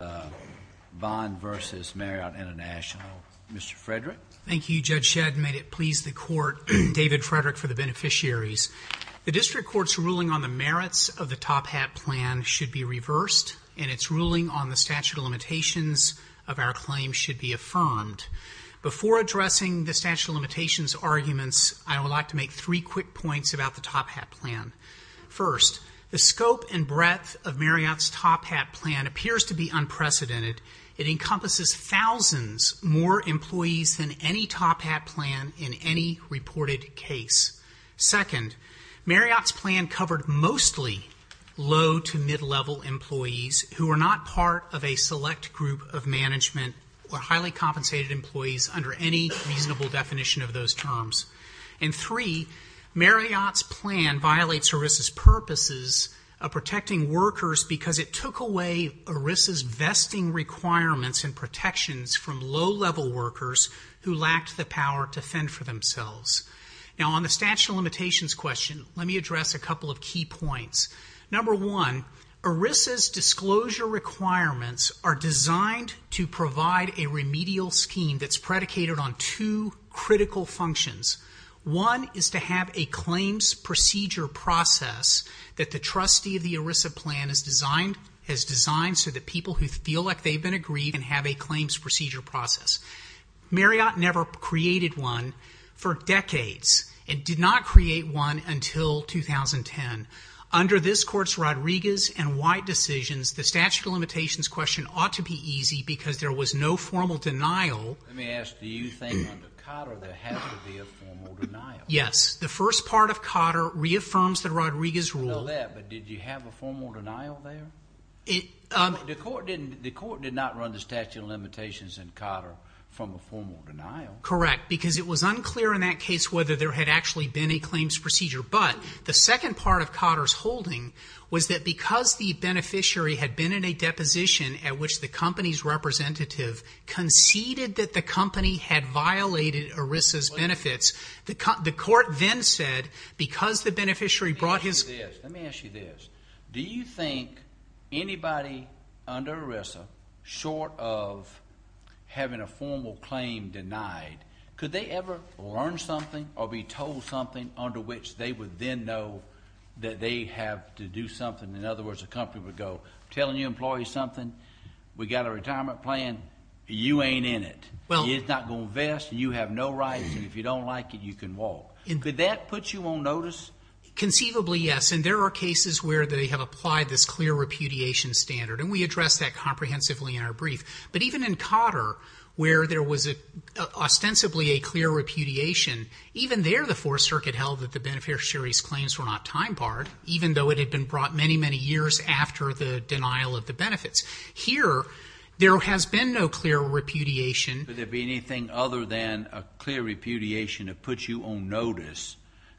Bond v. Marriott International, Mr. Frederick. Thank you, Judge Shedd. May it please the Court, David Frederick for the beneficiaries. The District Court's ruling on the merits of the Top Hat Plan should be reversed and its ruling on the statute of limitations of our claim should be affirmed. Before addressing the statute of limitations arguments, I would like to make three quick points about the Top Hat Plan. First, the scope and breadth of Marriott's Top Hat Plan appears to be unprecedented. It encompasses thousands more employees than any Top Hat Plan in any reported case. Second, Marriott's plan covered mostly low to mid-level employees who were not part of a select group of management or highly compensated employees under any reasonable definition of those terms. And three, Marriott's plan violates ERISA's purposes of protecting workers because it took away ERISA's vesting requirements and protections from low-level workers who lacked the power to fend for themselves. Now on the statute of limitations question, let me address a couple of key points. Number one, ERISA's disclosure requirements are designed to provide a remedial scheme that's predicated on two critical functions. One is to have a claims procedure process that the trustee of the ERISA plan has designed so that people who feel like they've been agreed can have a claims procedure process. Marriott never created one for decades and did not create one until 2010. Under this Court's Rodriguez and White decisions, the statute of limitations question ought to be easy because there was no formal denial. Let me ask, do you think under Cotter there has to be a formal denial? Yes. The first part of Cotter reaffirms the Rodriguez rule. I know that, but did you have a formal denial there? The Court did not run the statute of limitations in Cotter from a formal denial. Correct, because it was unclear in that case whether there had actually been a claims procedure. But the second part of Cotter's holding was that because the beneficiary had been in a company's representative, conceded that the company had violated ERISA's benefits, the Court then said, because the beneficiary brought his... Let me ask you this. Let me ask you this. Do you think anybody under ERISA, short of having a formal claim denied, could they ever learn something or be told something under which they would then know that they have to do something? In other words, the company would go, I'm telling you employees something, we've got a retirement plan. You ain't in it. It's not going to invest. You have no right. And if you don't like it, you can walk. Did that put you on notice? Conceivably, yes. And there are cases where they have applied this clear repudiation standard, and we addressed that comprehensively in our brief. But even in Cotter, where there was ostensibly a clear repudiation, even there the Fourth Circuit held that the beneficiary's claims were not time barred, even though it had been brought many, many years after the denial of the benefits. Here, there has been no clear repudiation. Could there be anything other than a clear repudiation that puts you on notice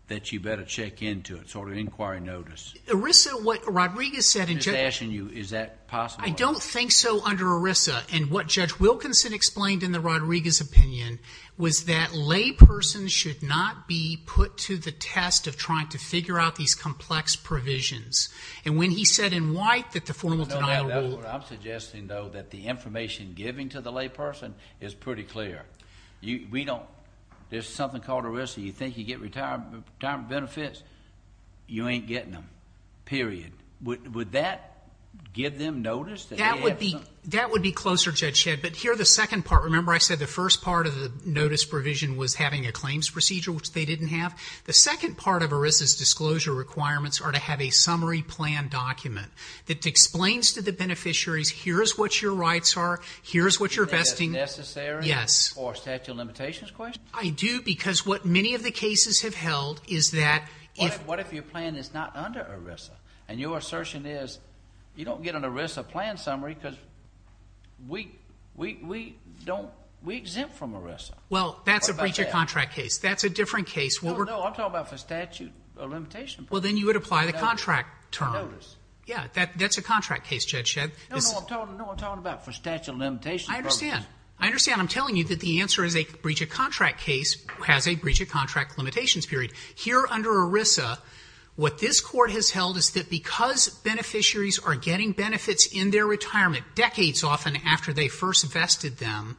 that you better check into it, sort of inquiry notice? ERISA, what Rodriguez said... I'm just asking you, is that possible? I don't think so under ERISA. And what Judge Wilkinson explained in the Rodriguez opinion was that laypersons should not be put to the test of trying to figure out these complex provisions. And when he said in white that the formal denial rule... I'm suggesting, though, that the information given to the layperson is pretty clear. We don't... There's something called ERISA. You think you get retirement benefits, you ain't getting them, period. Would that give them notice? That would be closer, Judge Shedd. But here, the second part, remember I said the first part of the notice provision was having a claims procedure, which they didn't have? The second part of ERISA's disclosure requirements are to have a summary plan document that explains to the beneficiaries, here's what your rights are, here's what you're vesting... Is that necessary? Yes. For a statute of limitations question? I do, because what many of the cases have held is that if... What if your plan is not under ERISA? And your assertion is, you don't get an ERISA plan summary because we exempt from ERISA. Well, that's a breach of contract case. That's a different case. No, no. I'm talking about for statute of limitations. Well, then you would apply the contract term. Yeah, that's a contract case, Judge Shedd. No, no. I'm talking about for statute of limitations. I understand. I understand. I'm telling you that the answer is a breach of contract case has a breach of contract limitations, period. Here under ERISA, what this court has held is that because beneficiaries are getting benefits in their retirement, decades often after they first vested them,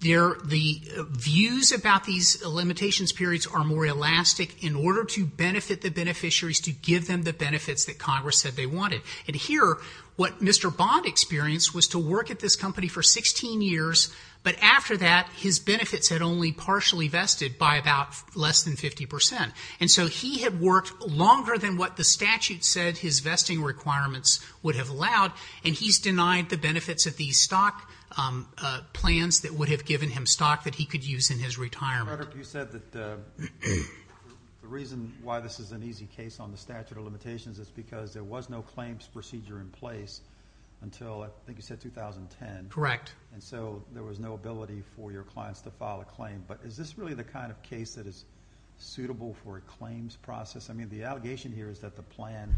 the views about these limitations periods are more elastic in order to benefit the beneficiaries to give them the benefits that Congress said they wanted. And here, what Mr. Bond experienced was to work at this company for 16 years, but after that his benefits had only partially vested by about less than 50%. And so he had worked longer than what the statute said his vesting requirements would have allowed, and he's denied the benefits of these stock plans that would have given him stock that he could use in his retirement. Rudder, you said that the reason why this is an easy case on the statute of limitations is because there was no claims procedure in place until, I think you said, 2010. Correct. And so there was no ability for your clients to file a claim. But is this really the kind of case that is suitable for a claims process? I mean, the allegation here is that the plan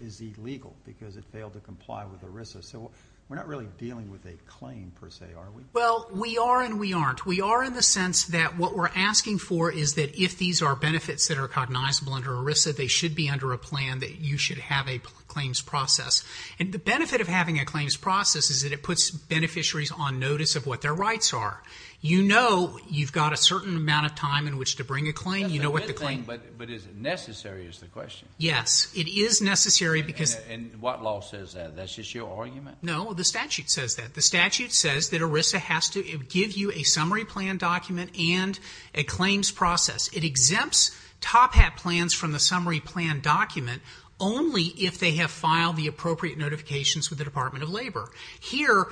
is illegal because it failed to comply with ERISA. So we're not really dealing with a claim, per se, are we? Well, we are and we aren't. We are in the sense that what we're asking for is that if these are benefits that are cognizable under ERISA, they should be under a plan that you should have a claims process. And the benefit of having a claims process is that it puts beneficiaries on notice of what their rights are. You know you've got a certain amount of time in which to bring a claim. That's a good thing, but is it necessary is the question. Yes. It is necessary because... And what law says that? That's just your argument? No. The statute says that. The statute says that ERISA has to give you a summary plan document and a claims process. It exempts top hat plans from the summary plan document only if they have filed the appropriate notifications with the Department of Labor. Here,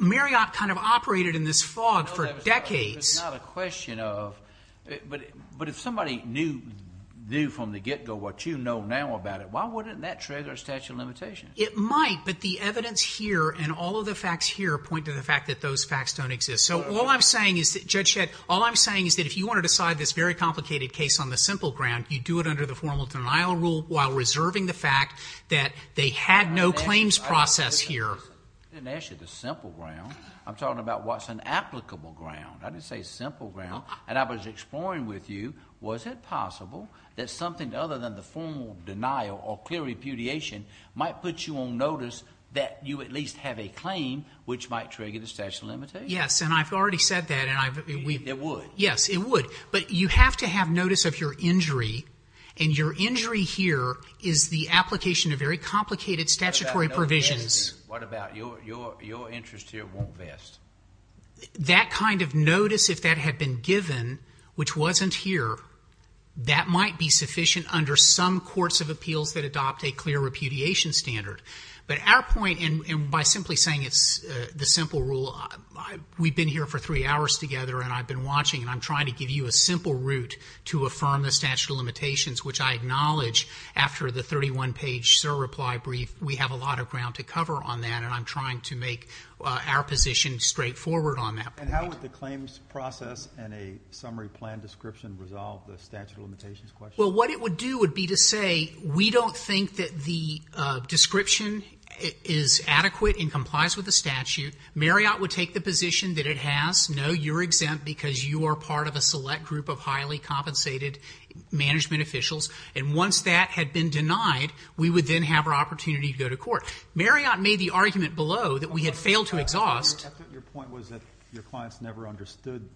Marriott kind of operated in this fog for decades. But it's not a question of... But if somebody knew from the get-go what you know now about it, why wouldn't that trigger a statute of limitations? It might, but the evidence here and all of the facts here point to the fact that those facts don't exist. So all I'm saying is that, Judge Shedd, all I'm saying is that if you want to decide this very complicated case on the simple ground, you do it under the formal denial rule while reserving the fact that they had no claims process here. I didn't ask you the simple ground. I'm talking about what's an applicable ground. I didn't say simple ground. And I was exploring with you, was it possible that something other than the formal denial or clear repudiation might put you on notice that you at least have a claim which might trigger the statute of limitations? Yes. And I've already said that. It would. Yes. It would. But you have to have notice of your injury. And your injury here is the application of very complicated statutory provisions. What about your interest here won't vest? That kind of notice, if that had been given, which wasn't here, that might be sufficient under some courts of appeals that adopt a clear repudiation standard. But our point, and by simply saying it's the simple rule, we've been here for three hours together and I've been watching and I'm trying to give you a simple route to affirm the statute of limitations, which I acknowledge after the 31-page SIR reply brief, we have a lot of ground to cover on that. And I'm trying to make our position straightforward on that point. And how would the claims process and a summary plan description resolve the statute of limitations question? Well, what it would do would be to say, we don't think that the description is adequate and complies with the statute. Marriott would take the position that it has, no, you're exempt because you are part of a select group of highly compensated management officials. And once that had been denied, we would then have our opportunity to go to court. Marriott made the argument below that we had failed to exhaust. Your point was that your clients never understood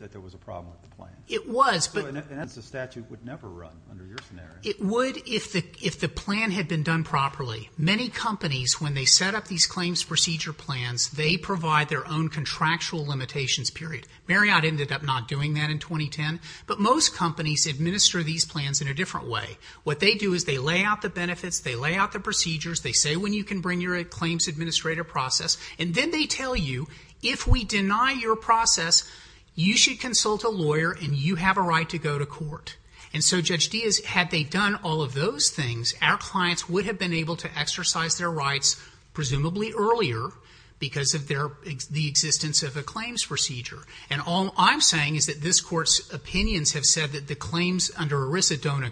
that there was a problem with the plan. It was. And that's a statute that would never run under your scenario. It would if the plan had been done properly. Many companies, when they set up these claims procedure plans, they provide their own contractual limitations period. Marriott ended up not doing that in 2010. But most companies administer these plans in a different way. What they do is they lay out the benefits. They lay out the procedures. They say when you can bring your claims administrator process. And then they tell you, if we deny your process, you should consult a lawyer and you have a right to go to court. And so Judge Diaz, had they done all of those things, our clients would have been able to exercise their rights presumably earlier because of their, the existence of a claims procedure. And all I'm saying is that this court's opinions have said that the claims under ERISA don't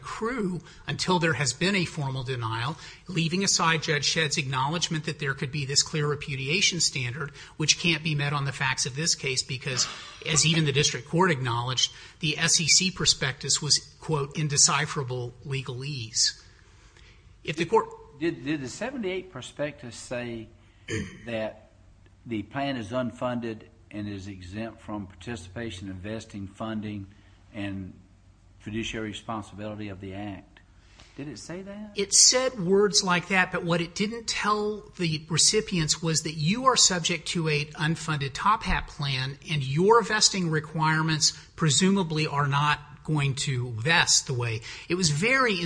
Leaving aside Judge Shedd's acknowledgement that there could be this clear repudiation standard, which can't be met on the facts of this case because, as even the district court acknowledged, the SEC prospectus was, quote, indecipherable legalese. If the court- Did the 78 prospectus say that the plan is unfunded and is exempt from participation, investing, funding, and fiduciary responsibility of the act? Did it say that? It said words like that, but what it didn't tell the recipients was that you are subject to a unfunded top hat plan and your investing requirements presumably are not going to vest the way. It was very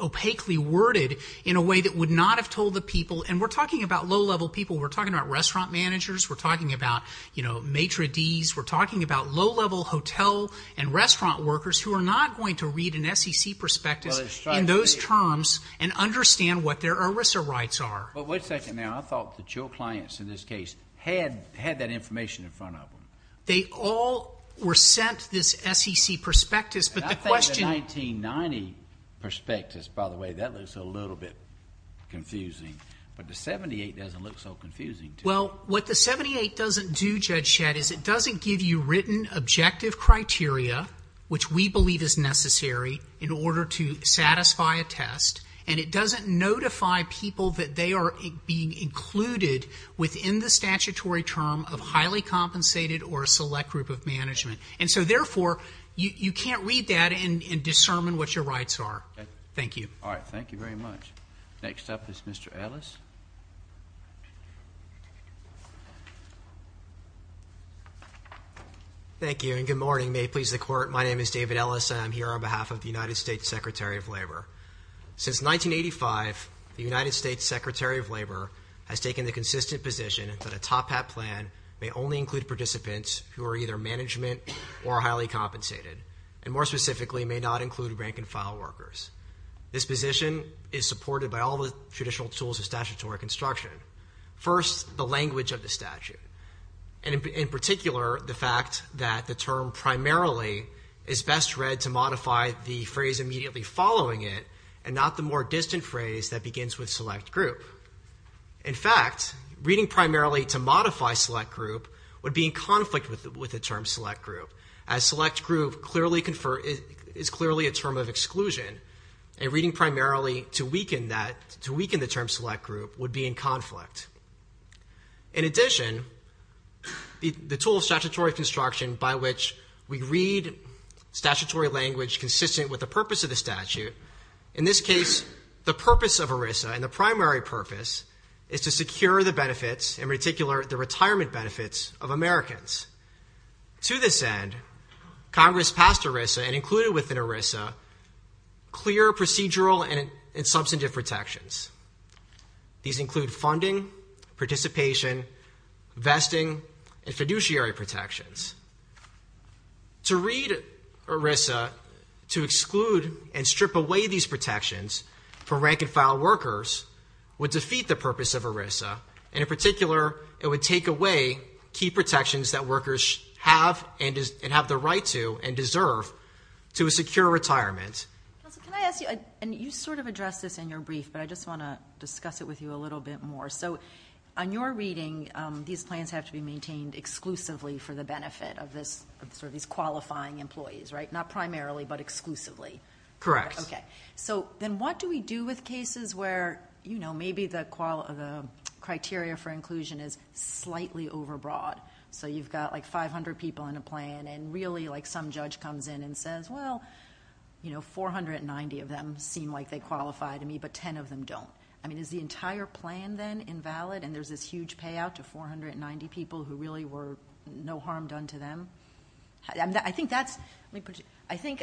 opaquely worded in a way that would not have told the people, and we're talking about low-level people. We're talking about restaurant managers. We're talking about, you know, maitre d's. We're talking about low-level hotel and restaurant workers who are not going to read an SEC prospectus in those terms and understand what their ERISA rights are. But wait a second there. I thought that your clients in this case had that information in front of them. They all were sent this SEC prospectus, but the question- And I think the 1990 prospectus, by the way, that looks a little bit confusing, but the 78 doesn't look so confusing to me. Well, what the 78 doesn't do, Judge Shad, is it doesn't give you written objective criteria, which we believe is necessary in order to satisfy a test, and it doesn't notify people that they are being included within the statutory term of highly compensated or a select group of management. And so, therefore, you can't read that and discern what your rights are. Thank you. All right. Thank you very much. Next up is Mr. Ellis. Thank you, and good morning. Good morning. May it please the Court. My name is David Ellis, and I'm here on behalf of the United States Secretary of Labor. Since 1985, the United States Secretary of Labor has taken the consistent position that a top-hat plan may only include participants who are either management or highly compensated, and more specifically, may not include rank-and-file workers. This position is supported by all the traditional tools of statutory construction. First, the language of the statute, and in particular, the fact that the term primarily is best read to modify the phrase immediately following it, and not the more distant phrase that begins with select group. In fact, reading primarily to modify select group would be in conflict with the term select group, as select group is clearly a term of exclusion, and reading primarily to weaken the term select group would be in conflict. In addition, the tool of statutory construction by which we read statutory language consistent with the purpose of the statute, in this case, the purpose of ERISA and the primary purpose is to secure the benefits, in particular, the retirement benefits of Americans. To this end, Congress passed ERISA and included within ERISA clear procedural and substantive protections. These include funding, participation, vesting, and fiduciary protections. To read ERISA to exclude and strip away these protections for rank-and-file workers would defeat the purpose of ERISA, and in particular, it would take away key protections that workers have and have the right to and deserve to a secure retirement. Can I ask you, and you sort of addressed this in your brief, but I just want to discuss it with you a little bit more. On your reading, these plans have to be maintained exclusively for the benefit of these qualifying employees, right? Not primarily, but exclusively. Correct. Okay. Then what do we do with cases where maybe the criteria for inclusion is slightly overbroad, so you've got like 500 people in a plan, and really some judge comes in and says, well, 490 of them seem like they qualify to me, but 10 of them don't. I mean, is the entire plan then invalid, and there's this huge payout to 490 people who really were no harm done to them? I think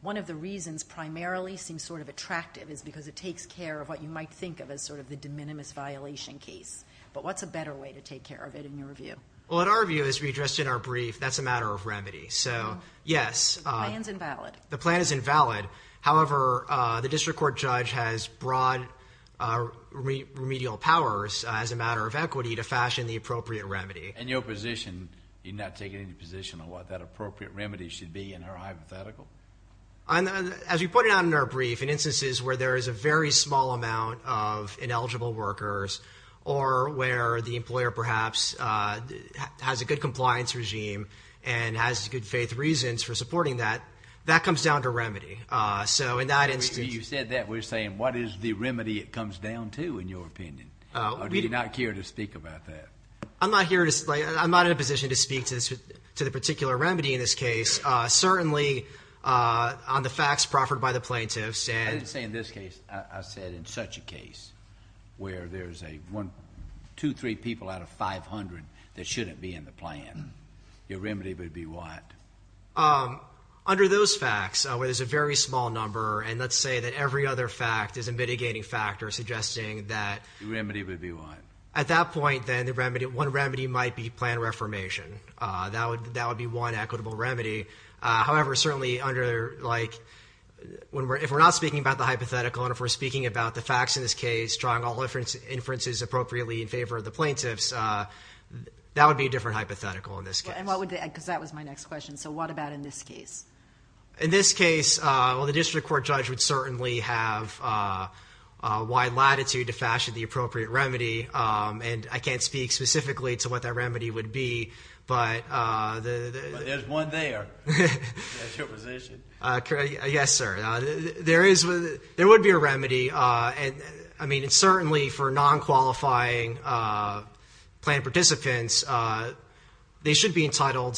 one of the reasons primarily seems sort of attractive is because it takes care of what you might think of as sort of the de minimis violation case, but what's a better way to take care of it in your view? Well, in our view, as we addressed in our brief, that's a matter of remedy. So yes. The plan's invalid. The plan is invalid. However, the district court judge has broad remedial powers as a matter of equity to fashion the appropriate remedy. In your position, you're not taking any position on what that appropriate remedy should be in her hypothetical? As we pointed out in our brief, in instances where there is a very small amount of ineligible workers or where the employer perhaps has a good compliance regime and has good faith reasons for supporting that, that comes down to remedy. So in that instance... You said that. We're saying what is the remedy it comes down to in your opinion, or do you not care to speak about that? I'm not here to... I'm not in a position to speak to the particular remedy in this case. Certainly, on the facts proffered by the plaintiffs and... I didn't say in this case. I said in such a case where there's a one, two, three people out of 500 that shouldn't be in the plan. Your remedy would be what? Under those facts, where there's a very small number, and let's say that every other fact is a mitigating factor suggesting that... Your remedy would be what? At that point, then, the remedy... one remedy might be plan reformation. That would be one equitable remedy. However, certainly under... if we're not speaking about the hypothetical and if we're speaking about the facts in this case, drawing all inferences appropriately in favor of the hypothetical in this case. What would... because that was my next question, so what about in this case? In this case, well, the district court judge would certainly have wide latitude to fashion the appropriate remedy. I can't speak specifically to what that remedy would be, but... There's one there, that's your position. Yes, sir. There is... there would be a remedy, and certainly for non-qualifying plaintiff participants, they should be entitled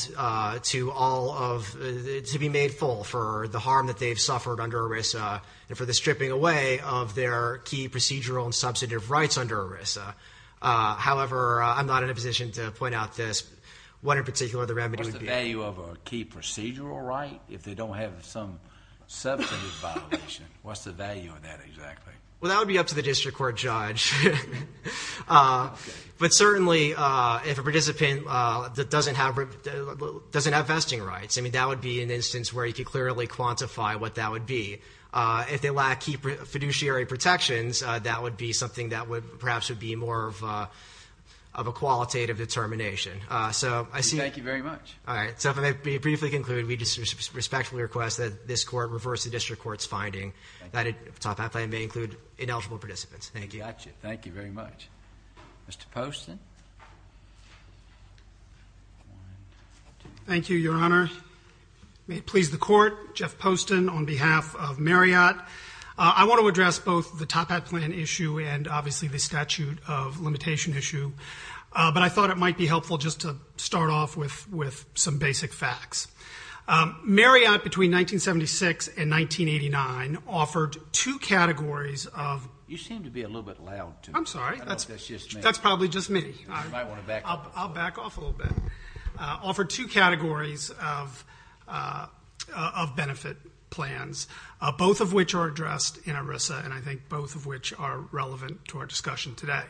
to all of... to be made full for the harm that they've suffered under ERISA and for the stripping away of their key procedural and substantive rights under ERISA. However, I'm not in a position to point out this. What in particular the remedy would be? What's the value of a key procedural right if they don't have some substantive violation? What's the value of that exactly? Well, that would be up to the district court judge. But certainly if a participant doesn't have vesting rights, I mean, that would be an instance where you could clearly quantify what that would be. If they lack key fiduciary protections, that would be something that would perhaps would be more of a qualitative determination. So I see... Thank you very much. All right. So if I may briefly conclude, we respectfully request that this Court reverse the district court's finding that a top hat plan may include ineligible participants. Thank you. Gotcha. Thank you very much. Mr. Poston? Thank you, Your Honor. May it please the Court, Jeff Poston on behalf of Marriott. I want to address both the top hat plan issue and obviously the statute of limitation issue. But I thought it might be helpful just to start off with some basic facts. Marriott, between 1976 and 1989, offered two categories of... You seem to be a little bit loud, too. I'm sorry. I don't know if that's just me. That's probably just me. You might want to back up. I'll back off a little bit. Offered two categories of benefit plans, both of which are addressed in ERISA and I think both of which are relevant to our discussion today.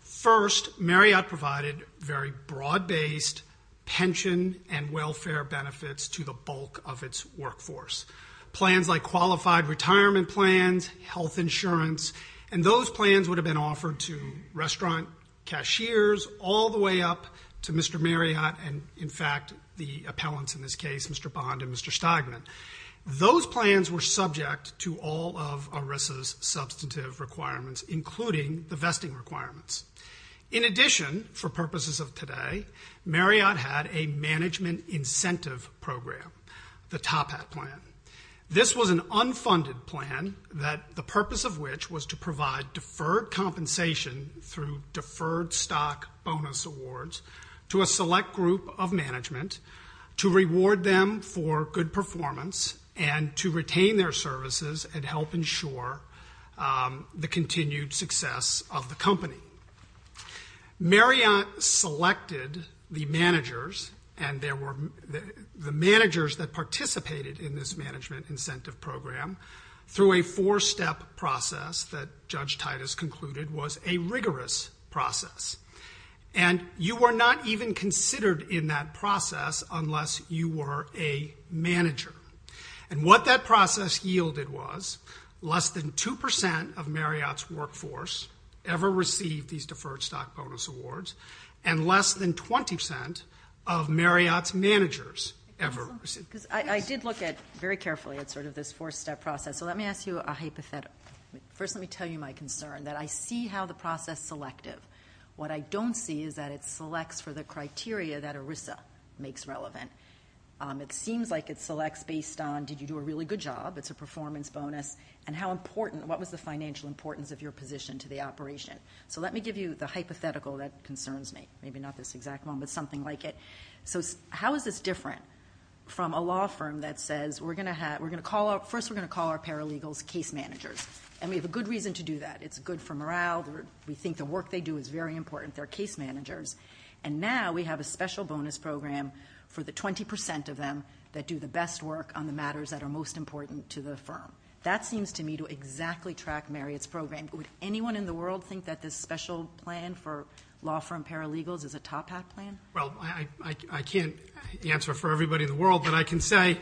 First, Marriott provided very broad-based pension and welfare benefits to the bulk of its workforce. Plans like qualified retirement plans, health insurance, and those plans would have been offered to restaurant cashiers all the way up to Mr. Marriott and, in fact, the appellants in this case, Mr. Bond and Mr. Steigman. Those plans were subject to all of ERISA's substantive requirements, including the vesting requirements. In addition, for purposes of today, Marriott had a management incentive program, the Top Hat plan. This was an unfunded plan, the purpose of which was to provide deferred compensation through deferred stock bonus awards to a select group of management to reward them for good company. Marriott selected the managers and the managers that participated in this management incentive program through a four-step process that Judge Titus concluded was a rigorous process. And you were not even considered in that process unless you were a manager. And what that process yielded was less than 2% of Marriott's workforce ever received these deferred stock bonus awards and less than 20% of Marriott's managers ever received them. I did look at, very carefully, at sort of this four-step process, so let me ask you a hypothetical. First, let me tell you my concern, that I see how the process selected. What I don't see is that it selects for the criteria that ERISA makes relevant. It seems like it selects based on, did you do a really good job, it's a performance bonus, and how important, what was the financial importance of your position to the operation? So let me give you the hypothetical that concerns me, maybe not this exact one, but something like it. So how is this different from a law firm that says, first, we're going to call our paralegals case managers, and we have a good reason to do that. It's good for morale, we think the work they do is very important, they're case managers. And now, we have a special bonus program for the 20% of them that do the best work on the matters that are most important to the firm. That seems to me to exactly track Marriott's program. Would anyone in the world think that this special plan for law firm paralegals is a top-hat plan? Well, I can't answer for everybody in the world, but I can say,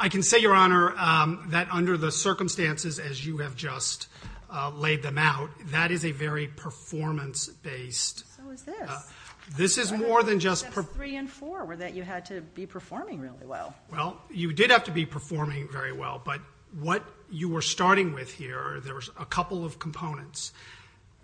I can say, Your Honor, that under the circumstances, as you have just laid them out, that is a very performance-based So is this. This is more than just- Steps three and four were that you had to be performing really well. Well, you did have to be performing very well, but what you were starting with here, there was a couple of components.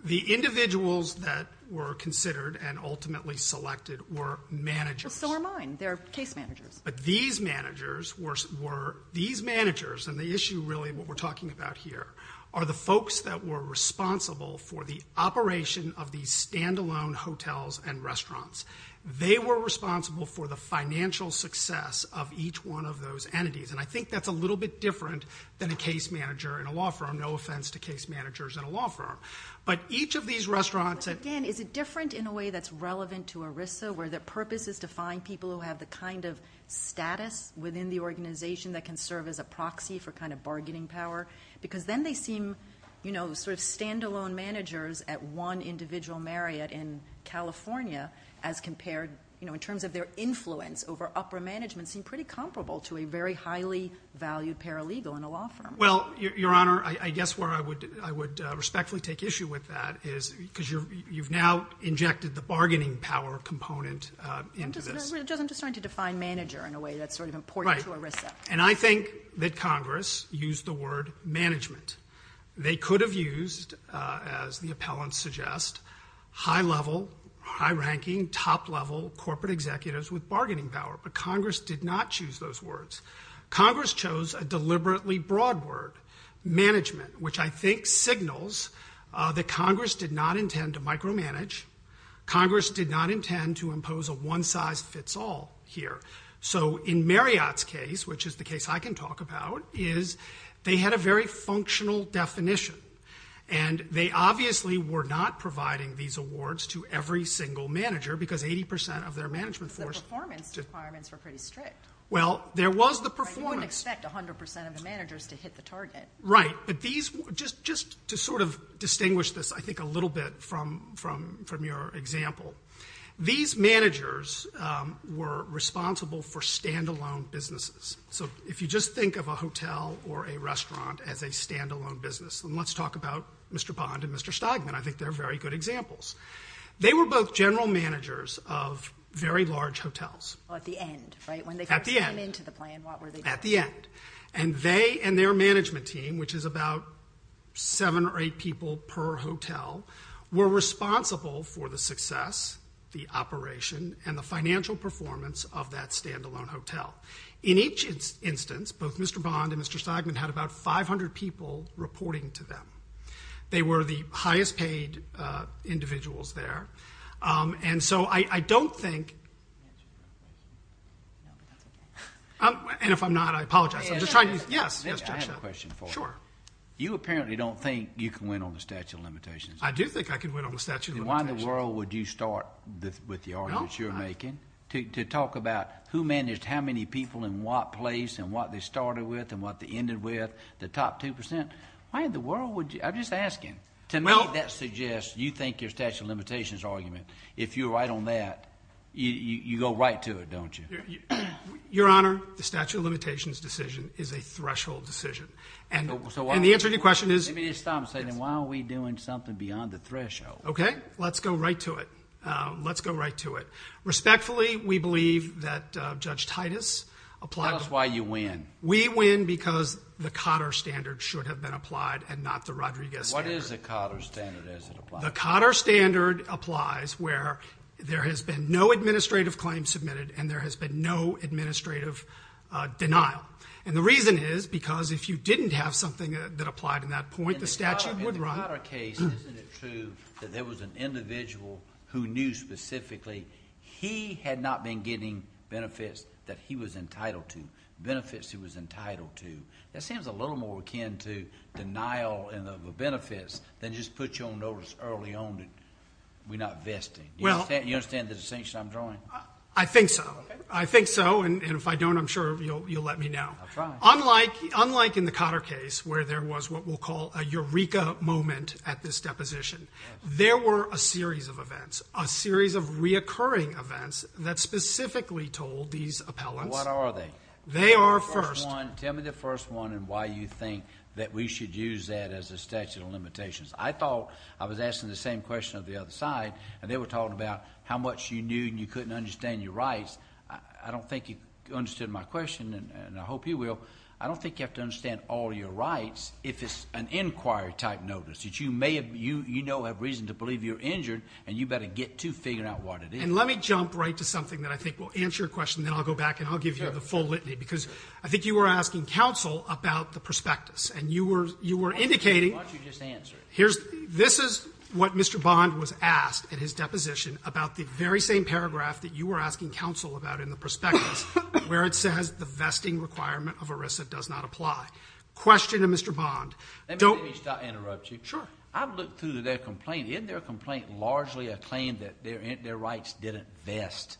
The individuals that were considered and ultimately selected were managers. Well, so were mine. They're case managers. But these managers were, these managers, and the issue, really, what we're talking about here are the folks that were responsible for the operation of these standalone hotels and restaurants. They were responsible for the financial success of each one of those entities, and I think that's a little bit different than a case manager in a law firm. No offense to case managers in a law firm. But each of these restaurants- But again, is it different in a way that's relevant to ERISA, where their purpose is to find people who have the kind of status within the organization that can serve as a proxy for kind of bargaining power? Because then they seem, you know, sort of standalone managers at one individual Marriott in California as compared, you know, in terms of their influence over upper management seem pretty comparable to a very highly valued paralegal in a law firm. Well, Your Honor, I guess where I would respectfully take issue with that is because you've now injected the bargaining power component into this. I'm just trying to define manager in a way that's sort of important to ERISA. And I think that Congress used the word management. They could have used, as the appellants suggest, high-level, high-ranking, top-level corporate executives with bargaining power, but Congress did not choose those words. Congress chose a deliberately broad word, management, which I think signals that Congress did not intend to micromanage. Congress did not intend to impose a one-size-fits-all here. So in Marriott's case, which is the case I can talk about, is they had a very functional definition. And they obviously were not providing these awards to every single manager, because 80 percent of their management force... The performance requirements were pretty strict. Well, there was the performance... I wouldn't expect 100 percent of the managers to hit the target. Right. But these... Just to sort of distinguish this, I think, a little bit from your example, these managers were responsible for standalone businesses. So if you just think of a hotel or a restaurant as a standalone business, and let's talk about Mr. Bond and Mr. Stogman, I think they're very good examples. They were both general managers of very large hotels. At the end, right? At the end. When they first came into the plan, what were they doing? At the end. And they and their management team, which is about seven or eight people per hotel, were responsible for the success, the operation, and the financial performance of that standalone hotel. In each instance, both Mr. Bond and Mr. Stogman had about 500 people reporting to them. They were the highest paid individuals there. And so I don't think... And if I'm not, I apologize. I'm just trying to... Yes? I have a question for you. Sure. You apparently don't think you can win on the statute of limitations. I do think I can win on the statute of limitations. And why in the world would you start with the arguments you're making to talk about who managed how many people in what place, and what they started with, and what they ended with, the top 2%? Why in the world would you... I'm just asking. Well... To me, that suggests you think your statute of limitations argument, if you're right on that, you go right to it, don't you? Your Honor, the statute of limitations decision is a threshold decision, and the answer to your question is... Okay. Let's go right to it. Let's go right to it. Respectfully, we believe that Judge Titus applied... Tell us why you win. We win because the Cotter standard should have been applied and not the Rodriguez standard. What is the Cotter standard as it applies? The Cotter standard applies where there has been no administrative claim submitted and there has been no administrative denial. And the reason is because if you didn't have something that applied in that point, the statute would... In the Cotter case, isn't it true that there was an individual who knew specifically he had not been getting benefits that he was entitled to, benefits he was entitled to? That seems a little more akin to denial of benefits than just put your own notice early on that we're not vesting. You understand the distinction I'm drawing? I think so. I think so, and if I don't, I'm sure you'll let me know. Unlike in the Cotter case where there was what we'll call a eureka moment at this deposition, there were a series of events, a series of reoccurring events that specifically told these appellants... What are they? They are first... Tell me the first one and why you think that we should use that as a statute of limitations. I thought I was asking the same question of the other side, and they were talking about how much you knew and you couldn't understand your rights. I don't think you understood my question, and I hope you will. I don't think you have to understand all your rights if it's an inquiry-type notice. You may have reason to believe you're injured, and you better get to figuring out what it is. And let me jump right to something that I think will answer your question, then I'll go back and I'll give you the full litany, because I think you were asking counsel about the prospectus, and you were indicating... Why don't you just answer it? This is what Mr. Bond was asked at his deposition about the very same paragraph that you were asking counsel about in the prospectus, where it says the vesting requirement of ERISA does not apply. Question to Mr. Bond. Let me stop and interrupt you. Sure. I've looked through their complaint. Isn't their complaint largely a claim that their rights didn't vest?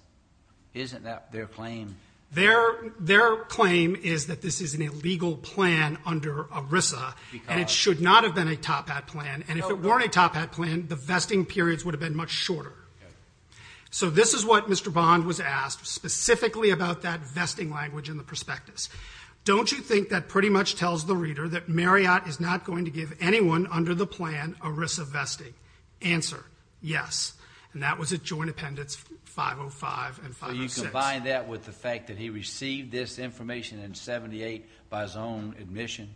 Isn't that their claim? Their claim is that this is an illegal plan under ERISA, and it should not have been a top hat plan. And if it weren't a top hat plan, the vesting periods would have been much shorter. Yes. So this is what Mr. Bond was asked specifically about that vesting language in the prospectus. Don't you think that pretty much tells the reader that Marriott is not going to give anyone under the plan ERISA vesting? Answer. Yes. And that was at Joint Appendix 505 and 506. You combine that with the fact that he received this information in 78 by his own admission?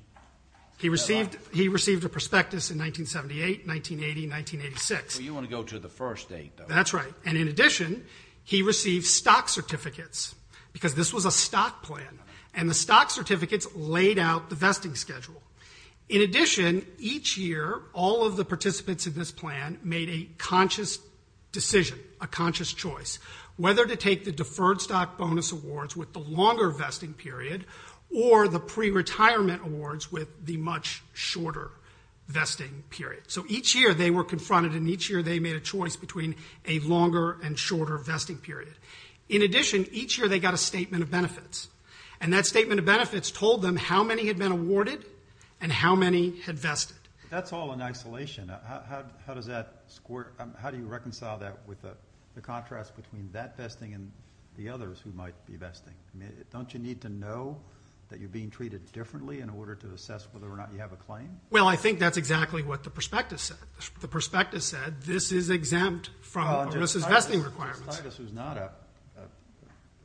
He received a prospectus in 1978, 1980, 1986. You want to go to the first date, though. That's right. And in addition, he received stock certificates, because this was a stock plan. And the stock certificates laid out the vesting schedule. In addition, each year, all of the participants in this plan made a conscious decision, a conscious choice, whether to take the deferred stock bonus awards with the longer vesting period, or the pre-retirement awards with the much shorter vesting period. So each year, they were confronted, and each year, they made a choice between a longer and shorter vesting period. In addition, each year, they got a statement of benefits. And that statement of benefits told them how many had been awarded and how many had vested. That's all in isolation. How does that score? How do you reconcile that with the contrast between that vesting and the others who might be vesting? I mean, don't you need to know that you're being treated differently in order to assess whether or not you have a claim? Well, I think that's exactly what the prospectus said. The prospectus said, this is exempt from the vesting requirements. Well, Judge Titus, who's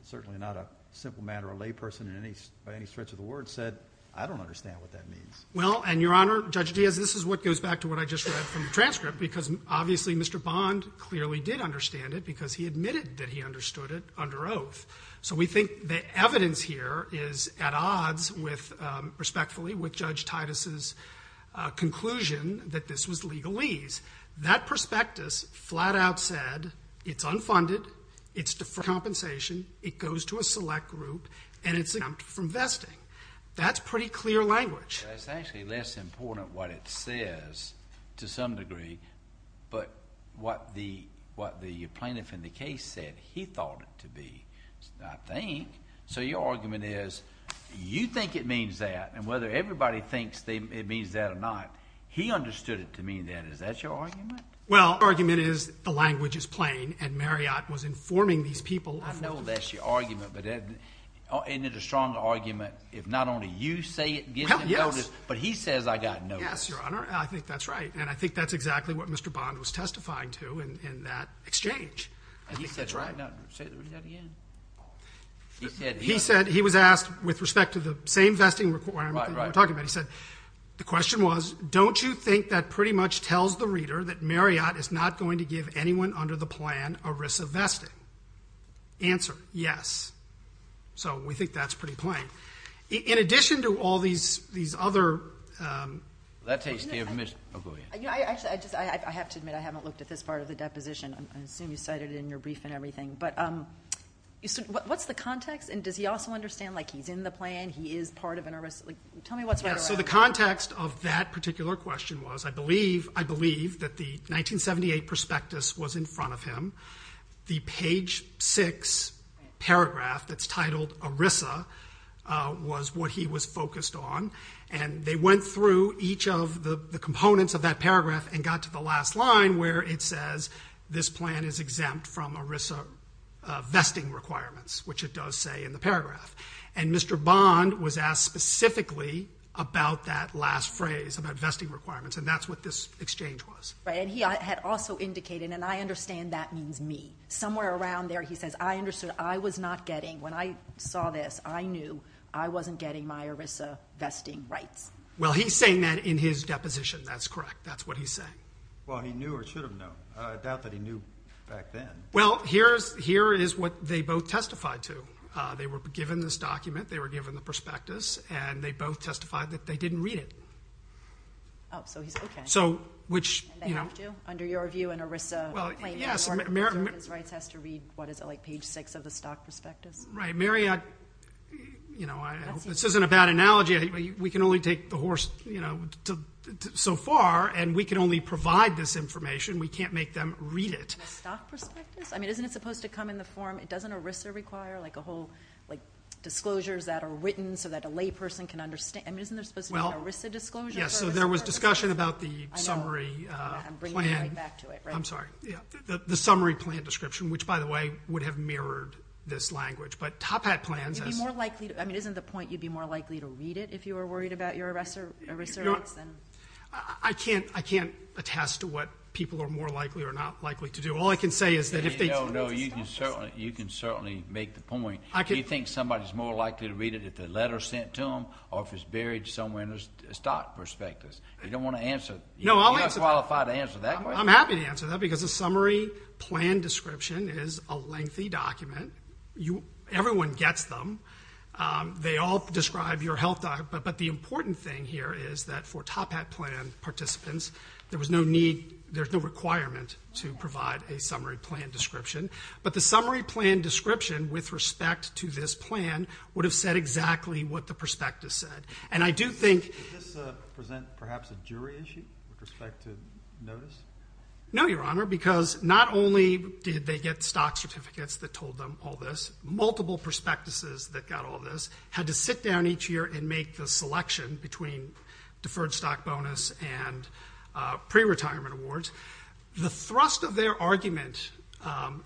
certainly not a simple man or a layperson by any stretch of the word, said, I don't understand what that means. Well, and Your Honor, Judge Diaz, this is what goes back to what I just read from the transcript, because obviously, Mr. Bond clearly did understand it, because he admitted that he understood it under oath. So we think the evidence here is at odds, respectfully, with Judge Titus's conclusion that this was legalese. That prospectus flat out said, it's unfunded, it's deferred compensation, it goes to a select group, and it's exempt from vesting. That's pretty clear language. Well, it's actually less important what it says, to some degree, but what the plaintiff in the case said, he thought it to be, I think. So your argument is, you think it means that, and whether everybody thinks it means that or not, he understood it to mean that. Is that your argument? Well, my argument is, the language is plain, and Marriott was informing these people of the fact. I know that's your argument, but isn't it a strong argument if not only you say it, give them notice, but he says, I got no notice. Yes, Your Honor, I think that's right. And I think that's exactly what Mr. Bond was testifying to in that exchange. I think that's right. He said, he was asked, with respect to the same vesting requirement that we're talking about, he said, the question was, don't you think that pretty much tells the reader that Marriott is not going to give anyone under the plan a risk of vesting? Answer, yes. So we think that's pretty plain. In addition to all these other... That takes the admission. Oh, go ahead. Actually, I just, I have to admit, I haven't looked at this part of the deposition. I assume you cited it in your brief and everything, but what's the context, and does he also understand like he's in the plan, he is part of an... Tell me what's right or wrong. So the context of that particular question was, I believe that the 1978 prospectus was in front of him. The page six paragraph that's titled ERISA was what he was focused on, and they went through each of the components of that paragraph and got to the last line where it says, this plan is exempt from ERISA vesting requirements, which it does say in the paragraph. And Mr. Bond was asked specifically about that last phrase, about vesting requirements, and that's what this exchange was. Right, and he had also indicated, and I understand that means me. Somewhere around there he says, I understood, I was not getting, when I saw this, I knew I wasn't getting my ERISA vesting rights. Well, he's saying that in his deposition, that's correct. That's what he's saying. Well, he knew or should have known. I doubt that he knew back then. Well, here is what they both testified to. They were given this document, they were given the prospectus, and they both testified that they didn't read it. Oh, so he's... Okay. So, which... And they have to? Under your view, an ERISA claim... Well, yes. American... American's rights has to read, what is it, like page six of the stock prospectus? Right. Mary, I... You know, I hope this isn't a bad analogy. We can only take the horse, you know, so far, and we can only provide this information. We can't make them read it. The stock prospectus? I mean, isn't it supposed to come in the form, it doesn't ERISA require, like a whole, like disclosures that are written so that a layperson can understand? I mean, isn't there supposed to be an ERISA disclosure for a stock prospectus? Well, yes. So there was discussion about the summary plan. I know. I'm bringing it right back to it, right? I'm sorry. Yeah. The summary plan description, which, by the way, would have mirrored this language. But Top Hat plans has... I mean, isn't the point you'd be more likely to read it if you were worried about your ERISA rates? You know, I can't attest to what people are more likely or not likely to do. All I can say is that if they... No, no. You can certainly make the point. You think somebody's more likely to read it if the letter's sent to them or if it's buried somewhere in the stock prospectus. You don't want to answer... No, I'll answer that. You're not qualified to answer that question. I'm happy to answer that because a summary plan description is a lengthy document. Everyone gets them. They all describe your health data. But the important thing here is that for Top Hat plan participants, there was no need... There's no requirement to provide a summary plan description. But the summary plan description with respect to this plan would have said exactly what the prospectus said. And I do think... Does this present perhaps a jury issue with respect to notice? No, Your Honor. Because not only did they get stock certificates that told them all this, multiple prospectuses that got all this, had to sit down each year and make the selection between deferred stock bonus and pre-retirement awards. The thrust of their argument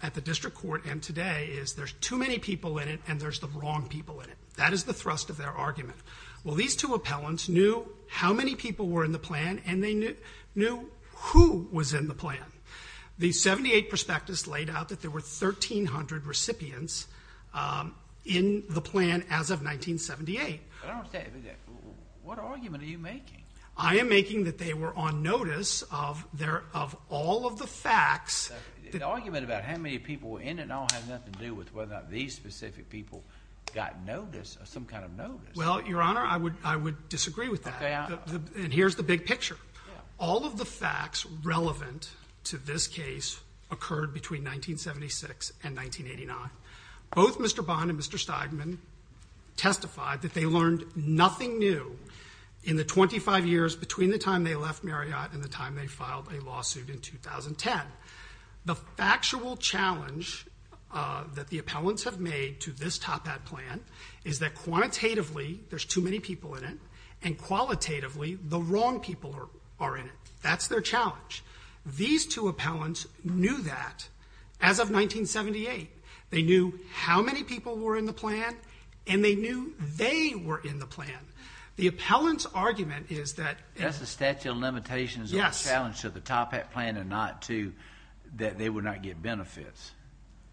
at the district court and today is there's too many people in it and there's the wrong people in it. That is the thrust of their argument. Well, these two appellants knew how many people were in the plan and they knew who was in the plan. The 78 prospectus laid out that there were 1,300 recipients in the plan as of 1978. But I don't understand. What argument are you making? I am making that they were on notice of all of the facts. The argument about how many people were in it all had nothing to do with whether or not these specific people got notice or some kind of notice. Well, Your Honor, I would disagree with that. And here's the big picture. All of the facts relevant to this case occurred between 1976 and 1989. Both Mr. Bond and Mr. Steigman testified that they learned nothing new in the 25 years between the time they left Marriott and the time they filed a lawsuit in 2010. The factual challenge that the appellants have made to this top hat plan is that quantitatively there's too many people in it and qualitatively the wrong people are in it. That's their challenge. These two appellants knew that as of 1978. They knew how many people were in the plan and they knew they were in the plan. The appellant's argument is that... That's the statute of limitations of the challenge to the top hat plan and not to that they would not get benefits.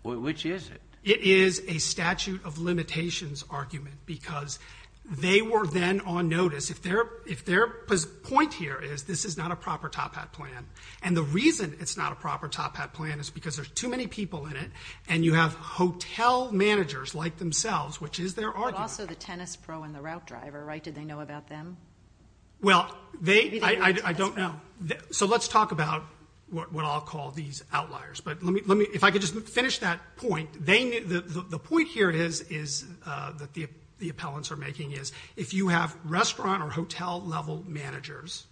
Which is it? It is a statute of limitations argument because they were then on notice. If their point here is this is not a proper top hat plan and the reason it's not a proper top hat plan is because there's too many people in it and you have hotel managers like themselves, which is their argument. But also the tennis pro and the route driver, right? Did they know about them? Well, I don't know. So let's talk about what I'll call these outliers. If I could just finish that point. The point here is that the appellants are making is if you have restaurant or hotel level managers,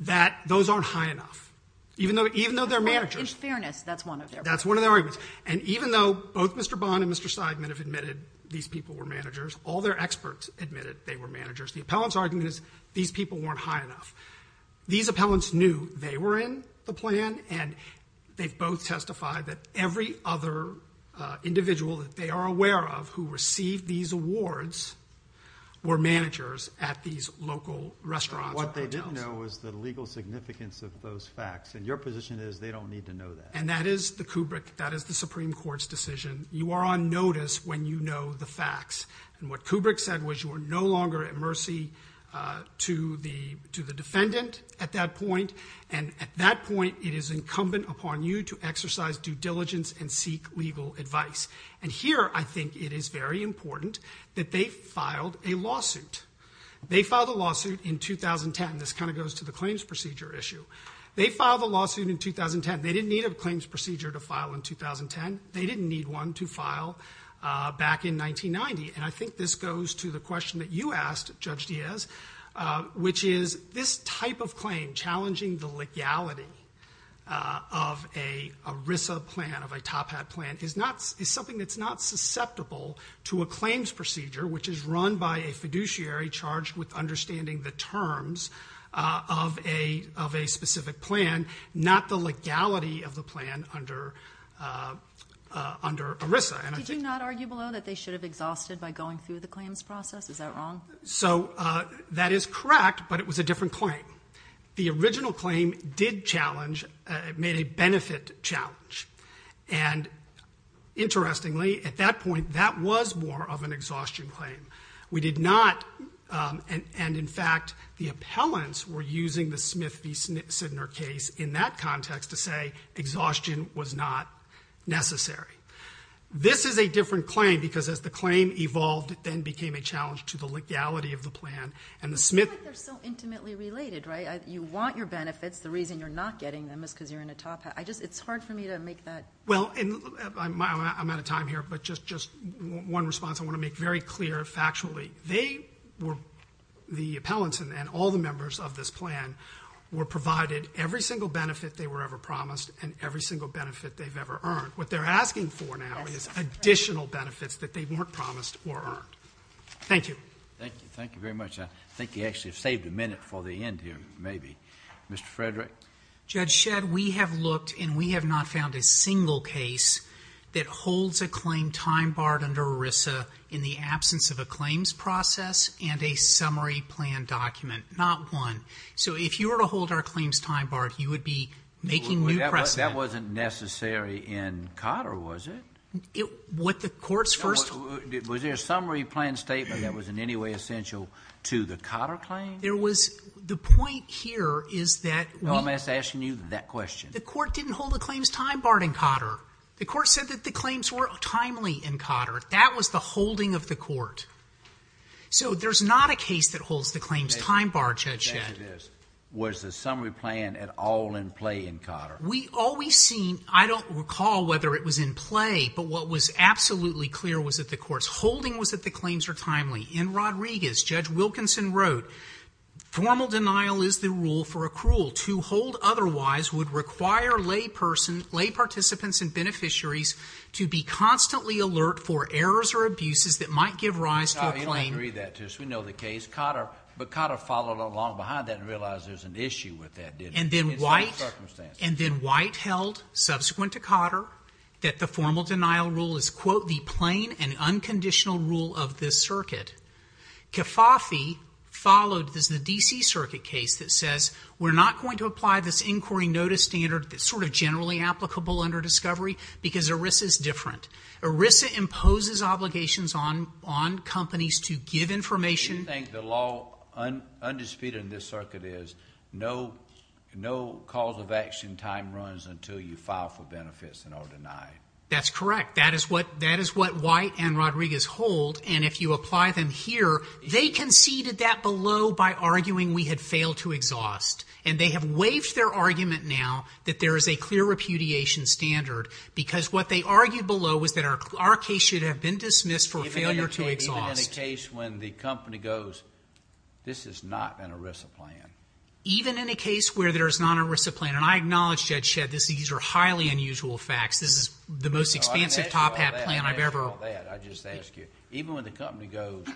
that those aren't high enough. Even though they're managers. In fairness, that's one of their arguments. That's one of their arguments. And even though both Mr. Bond and Mr. Seidman have admitted these people were managers, all their experts admitted they were managers. The appellant's argument is these people weren't high enough. These appellants knew they were in the plan and they've both testified that every other individual that they are aware of who received these awards were managers at these local restaurants or hotels. What they didn't know was the legal significance of those facts. And your position is they don't need to know that. And that is the Kubrick, that is the Supreme Court's decision. You are on notice when you know the facts. What Kubrick said was you are no longer at mercy to the defendant at that point. And at that point, it is incumbent upon you to exercise due diligence and seek legal advice. And here I think it is very important that they filed a lawsuit. They filed a lawsuit in 2010. This kind of goes to the claims procedure issue. They filed a lawsuit in 2010. They didn't need a claims procedure to file in 2010. They didn't need one to file back in 1990. And I think this goes to the question that you asked, Judge Diaz, which is this type of claim, challenging the legality of a RISA plan, of a Top Hat plan, is something that's not susceptible to a claims procedure, which is run by a fiduciary charged with understanding the terms of a specific plan, not the legality of the plan under RISA. Did you not argue below that they should have exhausted by going through the claims process? Is that wrong? So that is correct, but it was a different claim. The original claim did challenge, made a benefit challenge. And interestingly, at that point, that was more of an exhaustion claim. We did not, and in fact, the appellants were using the Smith v. Sidner case in that context to say exhaustion was not necessary. This is a different claim, because as the claim evolved, it then became a challenge to the legality of the plan. And the Smith- It's like they're so intimately related, right? You want your benefits. The reason you're not getting them is because you're in a Top Hat. I just, it's hard for me to make that- Well, and I'm out of time here, but just one response. I want to make very clear factually, they were, the appellants and all the members of this plan, were provided every single benefit they were ever promised and every single benefit they've ever earned. What they're asking for now is additional benefits that they weren't promised or earned. Thank you. Thank you. Thank you very much. I think you actually saved a minute for the end here, maybe. Mr. Frederick? Judge Shedd, we have looked and we have not found a single case that holds a claim time barred under ERISA in the absence of a claims process and a summary plan document. Not one. So if you were to hold our claims time barred, you would be making new precedent. That wasn't necessary in Cotter, was it? What the court's first- Was there a summary plan statement that was in any way essential to the Cotter claim? There was, the point here is that we- No, I'm just asking you that question. The court didn't hold the claims time barred in Cotter. The court said that the claims were timely in Cotter. That was the holding of the court. So there's not a case that holds the claims time barred, Judge Shedd. Was the summary plan at all in play in Cotter? We always seem, I don't recall whether it was in play, but what was absolutely clear was that the court's holding was that the claims were timely. In Rodriguez, Judge Wilkinson wrote, Formal denial is the rule for a cruel. To hold otherwise would require lay participants and beneficiaries to be constantly alert for errors or abuses that might give rise to a claim- No, you don't agree that to us. We know the case. Cotter, but Cotter followed along behind that and realized there's an issue with that, didn't he? And then White held, subsequent to Cotter, that the formal denial rule is, quote, the plain and unconditional rule of this circuit. Kefauve followed the D.C. circuit case that says, We're not going to apply this inquiry notice standard that's sort of generally applicable under discovery because ERISA is different. ERISA imposes obligations on companies to give information- Do you think the law, undisputed in this circuit is, no cause of action time runs until you file for benefits and are denied? That's correct. That is what White and Rodriguez hold. And if you apply them here, they conceded that below by arguing we had failed to exhaust. And they have waived their argument now that there is a clear repudiation standard because what they argued below was that our case should have been dismissed for failure to exhaust. Even in a case when the company goes, This is not an ERISA plan. Even in a case where there's not an ERISA plan. And I acknowledge, Judge Shedd, these are highly unusual facts. This is the most expansive top hat plan I've ever- Even when the company goes,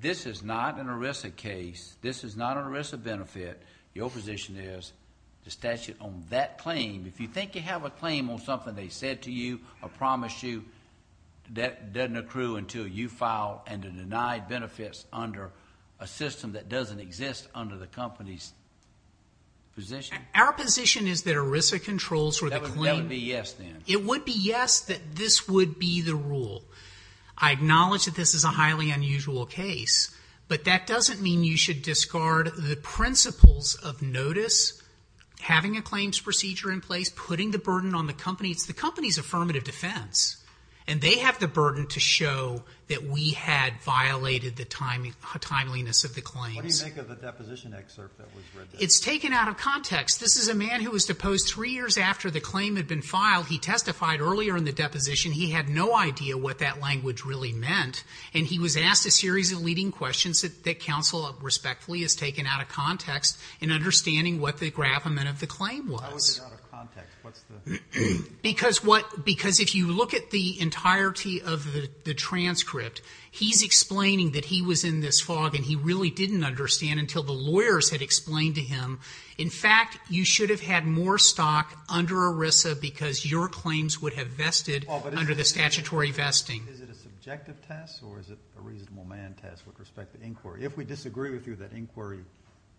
This is not an ERISA case. This is not an ERISA benefit. Your position is, the statute on that claim, if you think you have a claim on something they said to you or promised you, that doesn't accrue until you file and are denied benefits under a system that doesn't exist under the company's position. Our position is that ERISA controls for the claim- That would be yes, then. It would be yes that this would be the rule. I acknowledge that this is a highly unusual case, but that doesn't mean you should discard the principles of notice, having a claims procedure in place, putting the burden on the company. It's the company's affirmative defense. And they have the burden to show that we had violated the timeliness of the claims. What do you make of the deposition excerpt that was read there? It's taken out of context. This is a man who was deposed three years after the claim had been filed. He testified earlier in the deposition. He had no idea what that language really meant. And he was asked a series of leading questions that counsel respectfully has taken out of context in understanding what the gravamen of the claim was. Why was it out of context? What's the- Because if you look at the entirety of the transcript, he's explaining that he was in this fog and he really didn't understand until the lawyers had explained to him. In fact, you should have had more stock under ERISA because your claims would have vested- Under the statutory vesting. Is it a subjective test or is it a reasonable man test with respect to inquiry? If we disagree with you that inquiry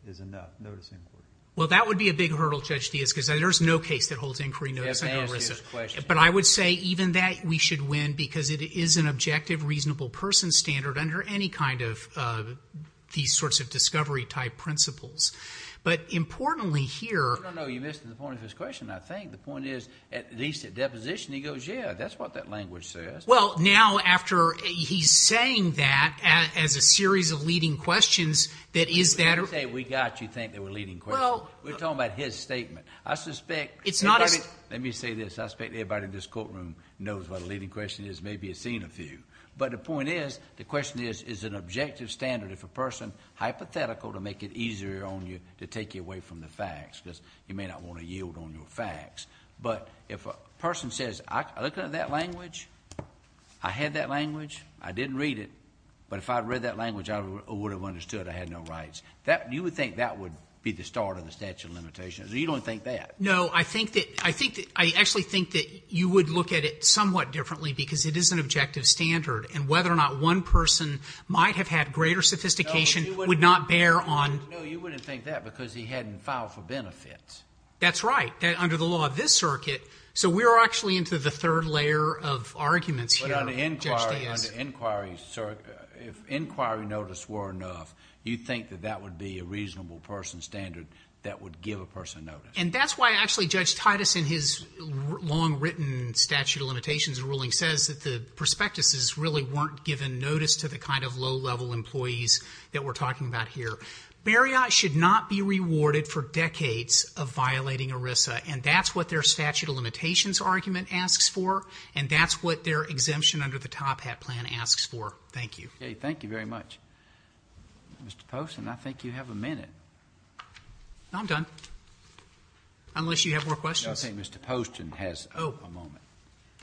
is enough, notice inquiry. Well, that would be a big hurdle, Judge Diaz, because there's no case that holds inquiry notice under ERISA. But I would say even that we should win because it is an objective, reasonable person standard under any kind of these sorts of discovery type principles. But importantly here- No, no, no. You missed the point of his question. I think the point is at least at deposition he goes, yeah, that's what that language says. Well, now after he's saying that as a series of leading questions that is that- When you say we got you think they were leading questions, we're talking about his statement. I suspect- It's not as- Let me say this. I suspect everybody in this courtroom knows what a leading question is. Maybe you've seen a few. But the point is, the question is, is an objective standard if a person hypothetical to make it easier on you to take you away from the facts? Because you may not want to yield on your facts. But if a person says, I looked at that language, I had that language, I didn't read it, but if I had read that language I would have understood I had no rights. You would think that would be the start of the statute of limitations. You don't think that. No, I think that- I actually think that you would look at it somewhat differently because it is an objective standard. And whether or not one person might have had greater sophistication would not bear on- No, you wouldn't think that because he hadn't filed for benefits. That's right. Under the law of this circuit, so we're actually into the third layer of arguments here, Judge Diaz. But on the inquiry, if inquiry notice were enough, you'd think that that would be a reasonable person standard that would give a person notice. And that's why actually Judge Titus in his long written statute of limitations ruling says that the prospectuses really weren't giving notice to the kind of low-level employees that we're talking about here. Bariat should not be rewarded for decades of violating ERISA. And that's what their statute of limitations argument asks for. And that's what their exemption under the Top Hat plan asks for. Thank you. Okay, thank you very much. Mr. Poston, I think you have a minute. No, I'm done. Unless you have more questions. I think Mr. Poston has a moment.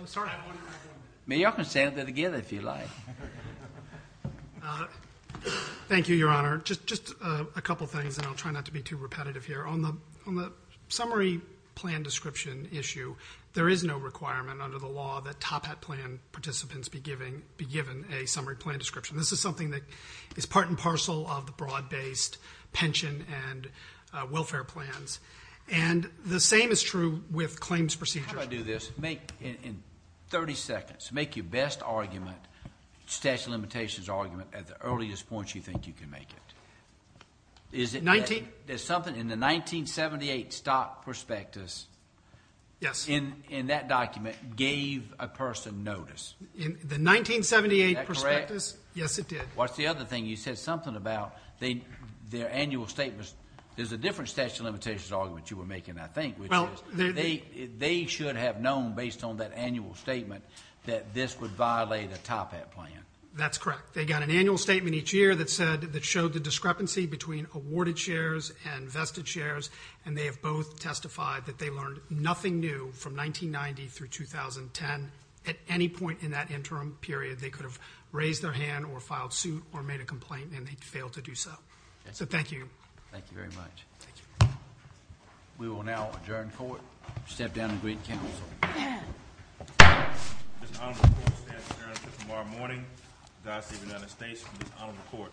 Oh, sorry. I have one in my room. Maybe y'all can stand there together if you like. Thank you, Your Honor. Just a couple things, and I'll try not to be too repetitive here. On the summary plan description issue, there is no requirement under the law that Top Hat plan participants be given a summary plan description. This is something that is part and parcel of the broad-based pension and welfare plans. And the same is true with claims procedures. How about I do this? Make, in 30 seconds, make your best argument, statute of limitations argument, at the earliest points you think you can make it. In the 1978 stock prospectus, in that document, gave a person notice. In the 1978 prospectus? Yes, it did. What's the other thing? You said something about their annual statements. There's a different statute of limitations argument you were making, I think. They should have known, based on that annual statement, that this would violate a Top Hat plan. That's correct. They got an annual statement each year that showed the discrepancy between awarded shares and vested shares. And they have both testified that they learned nothing new from 1990 through 2010. At any point in that interim period, they could have raised their hand, or filed suit, or made a complaint, and they failed to do so. So thank you. Thank you very much. Thank you. We will now adjourn court, step down and greet counsel. Mr. Honorable Court, we stand adjourned until tomorrow morning. God save the United States from this honorable court.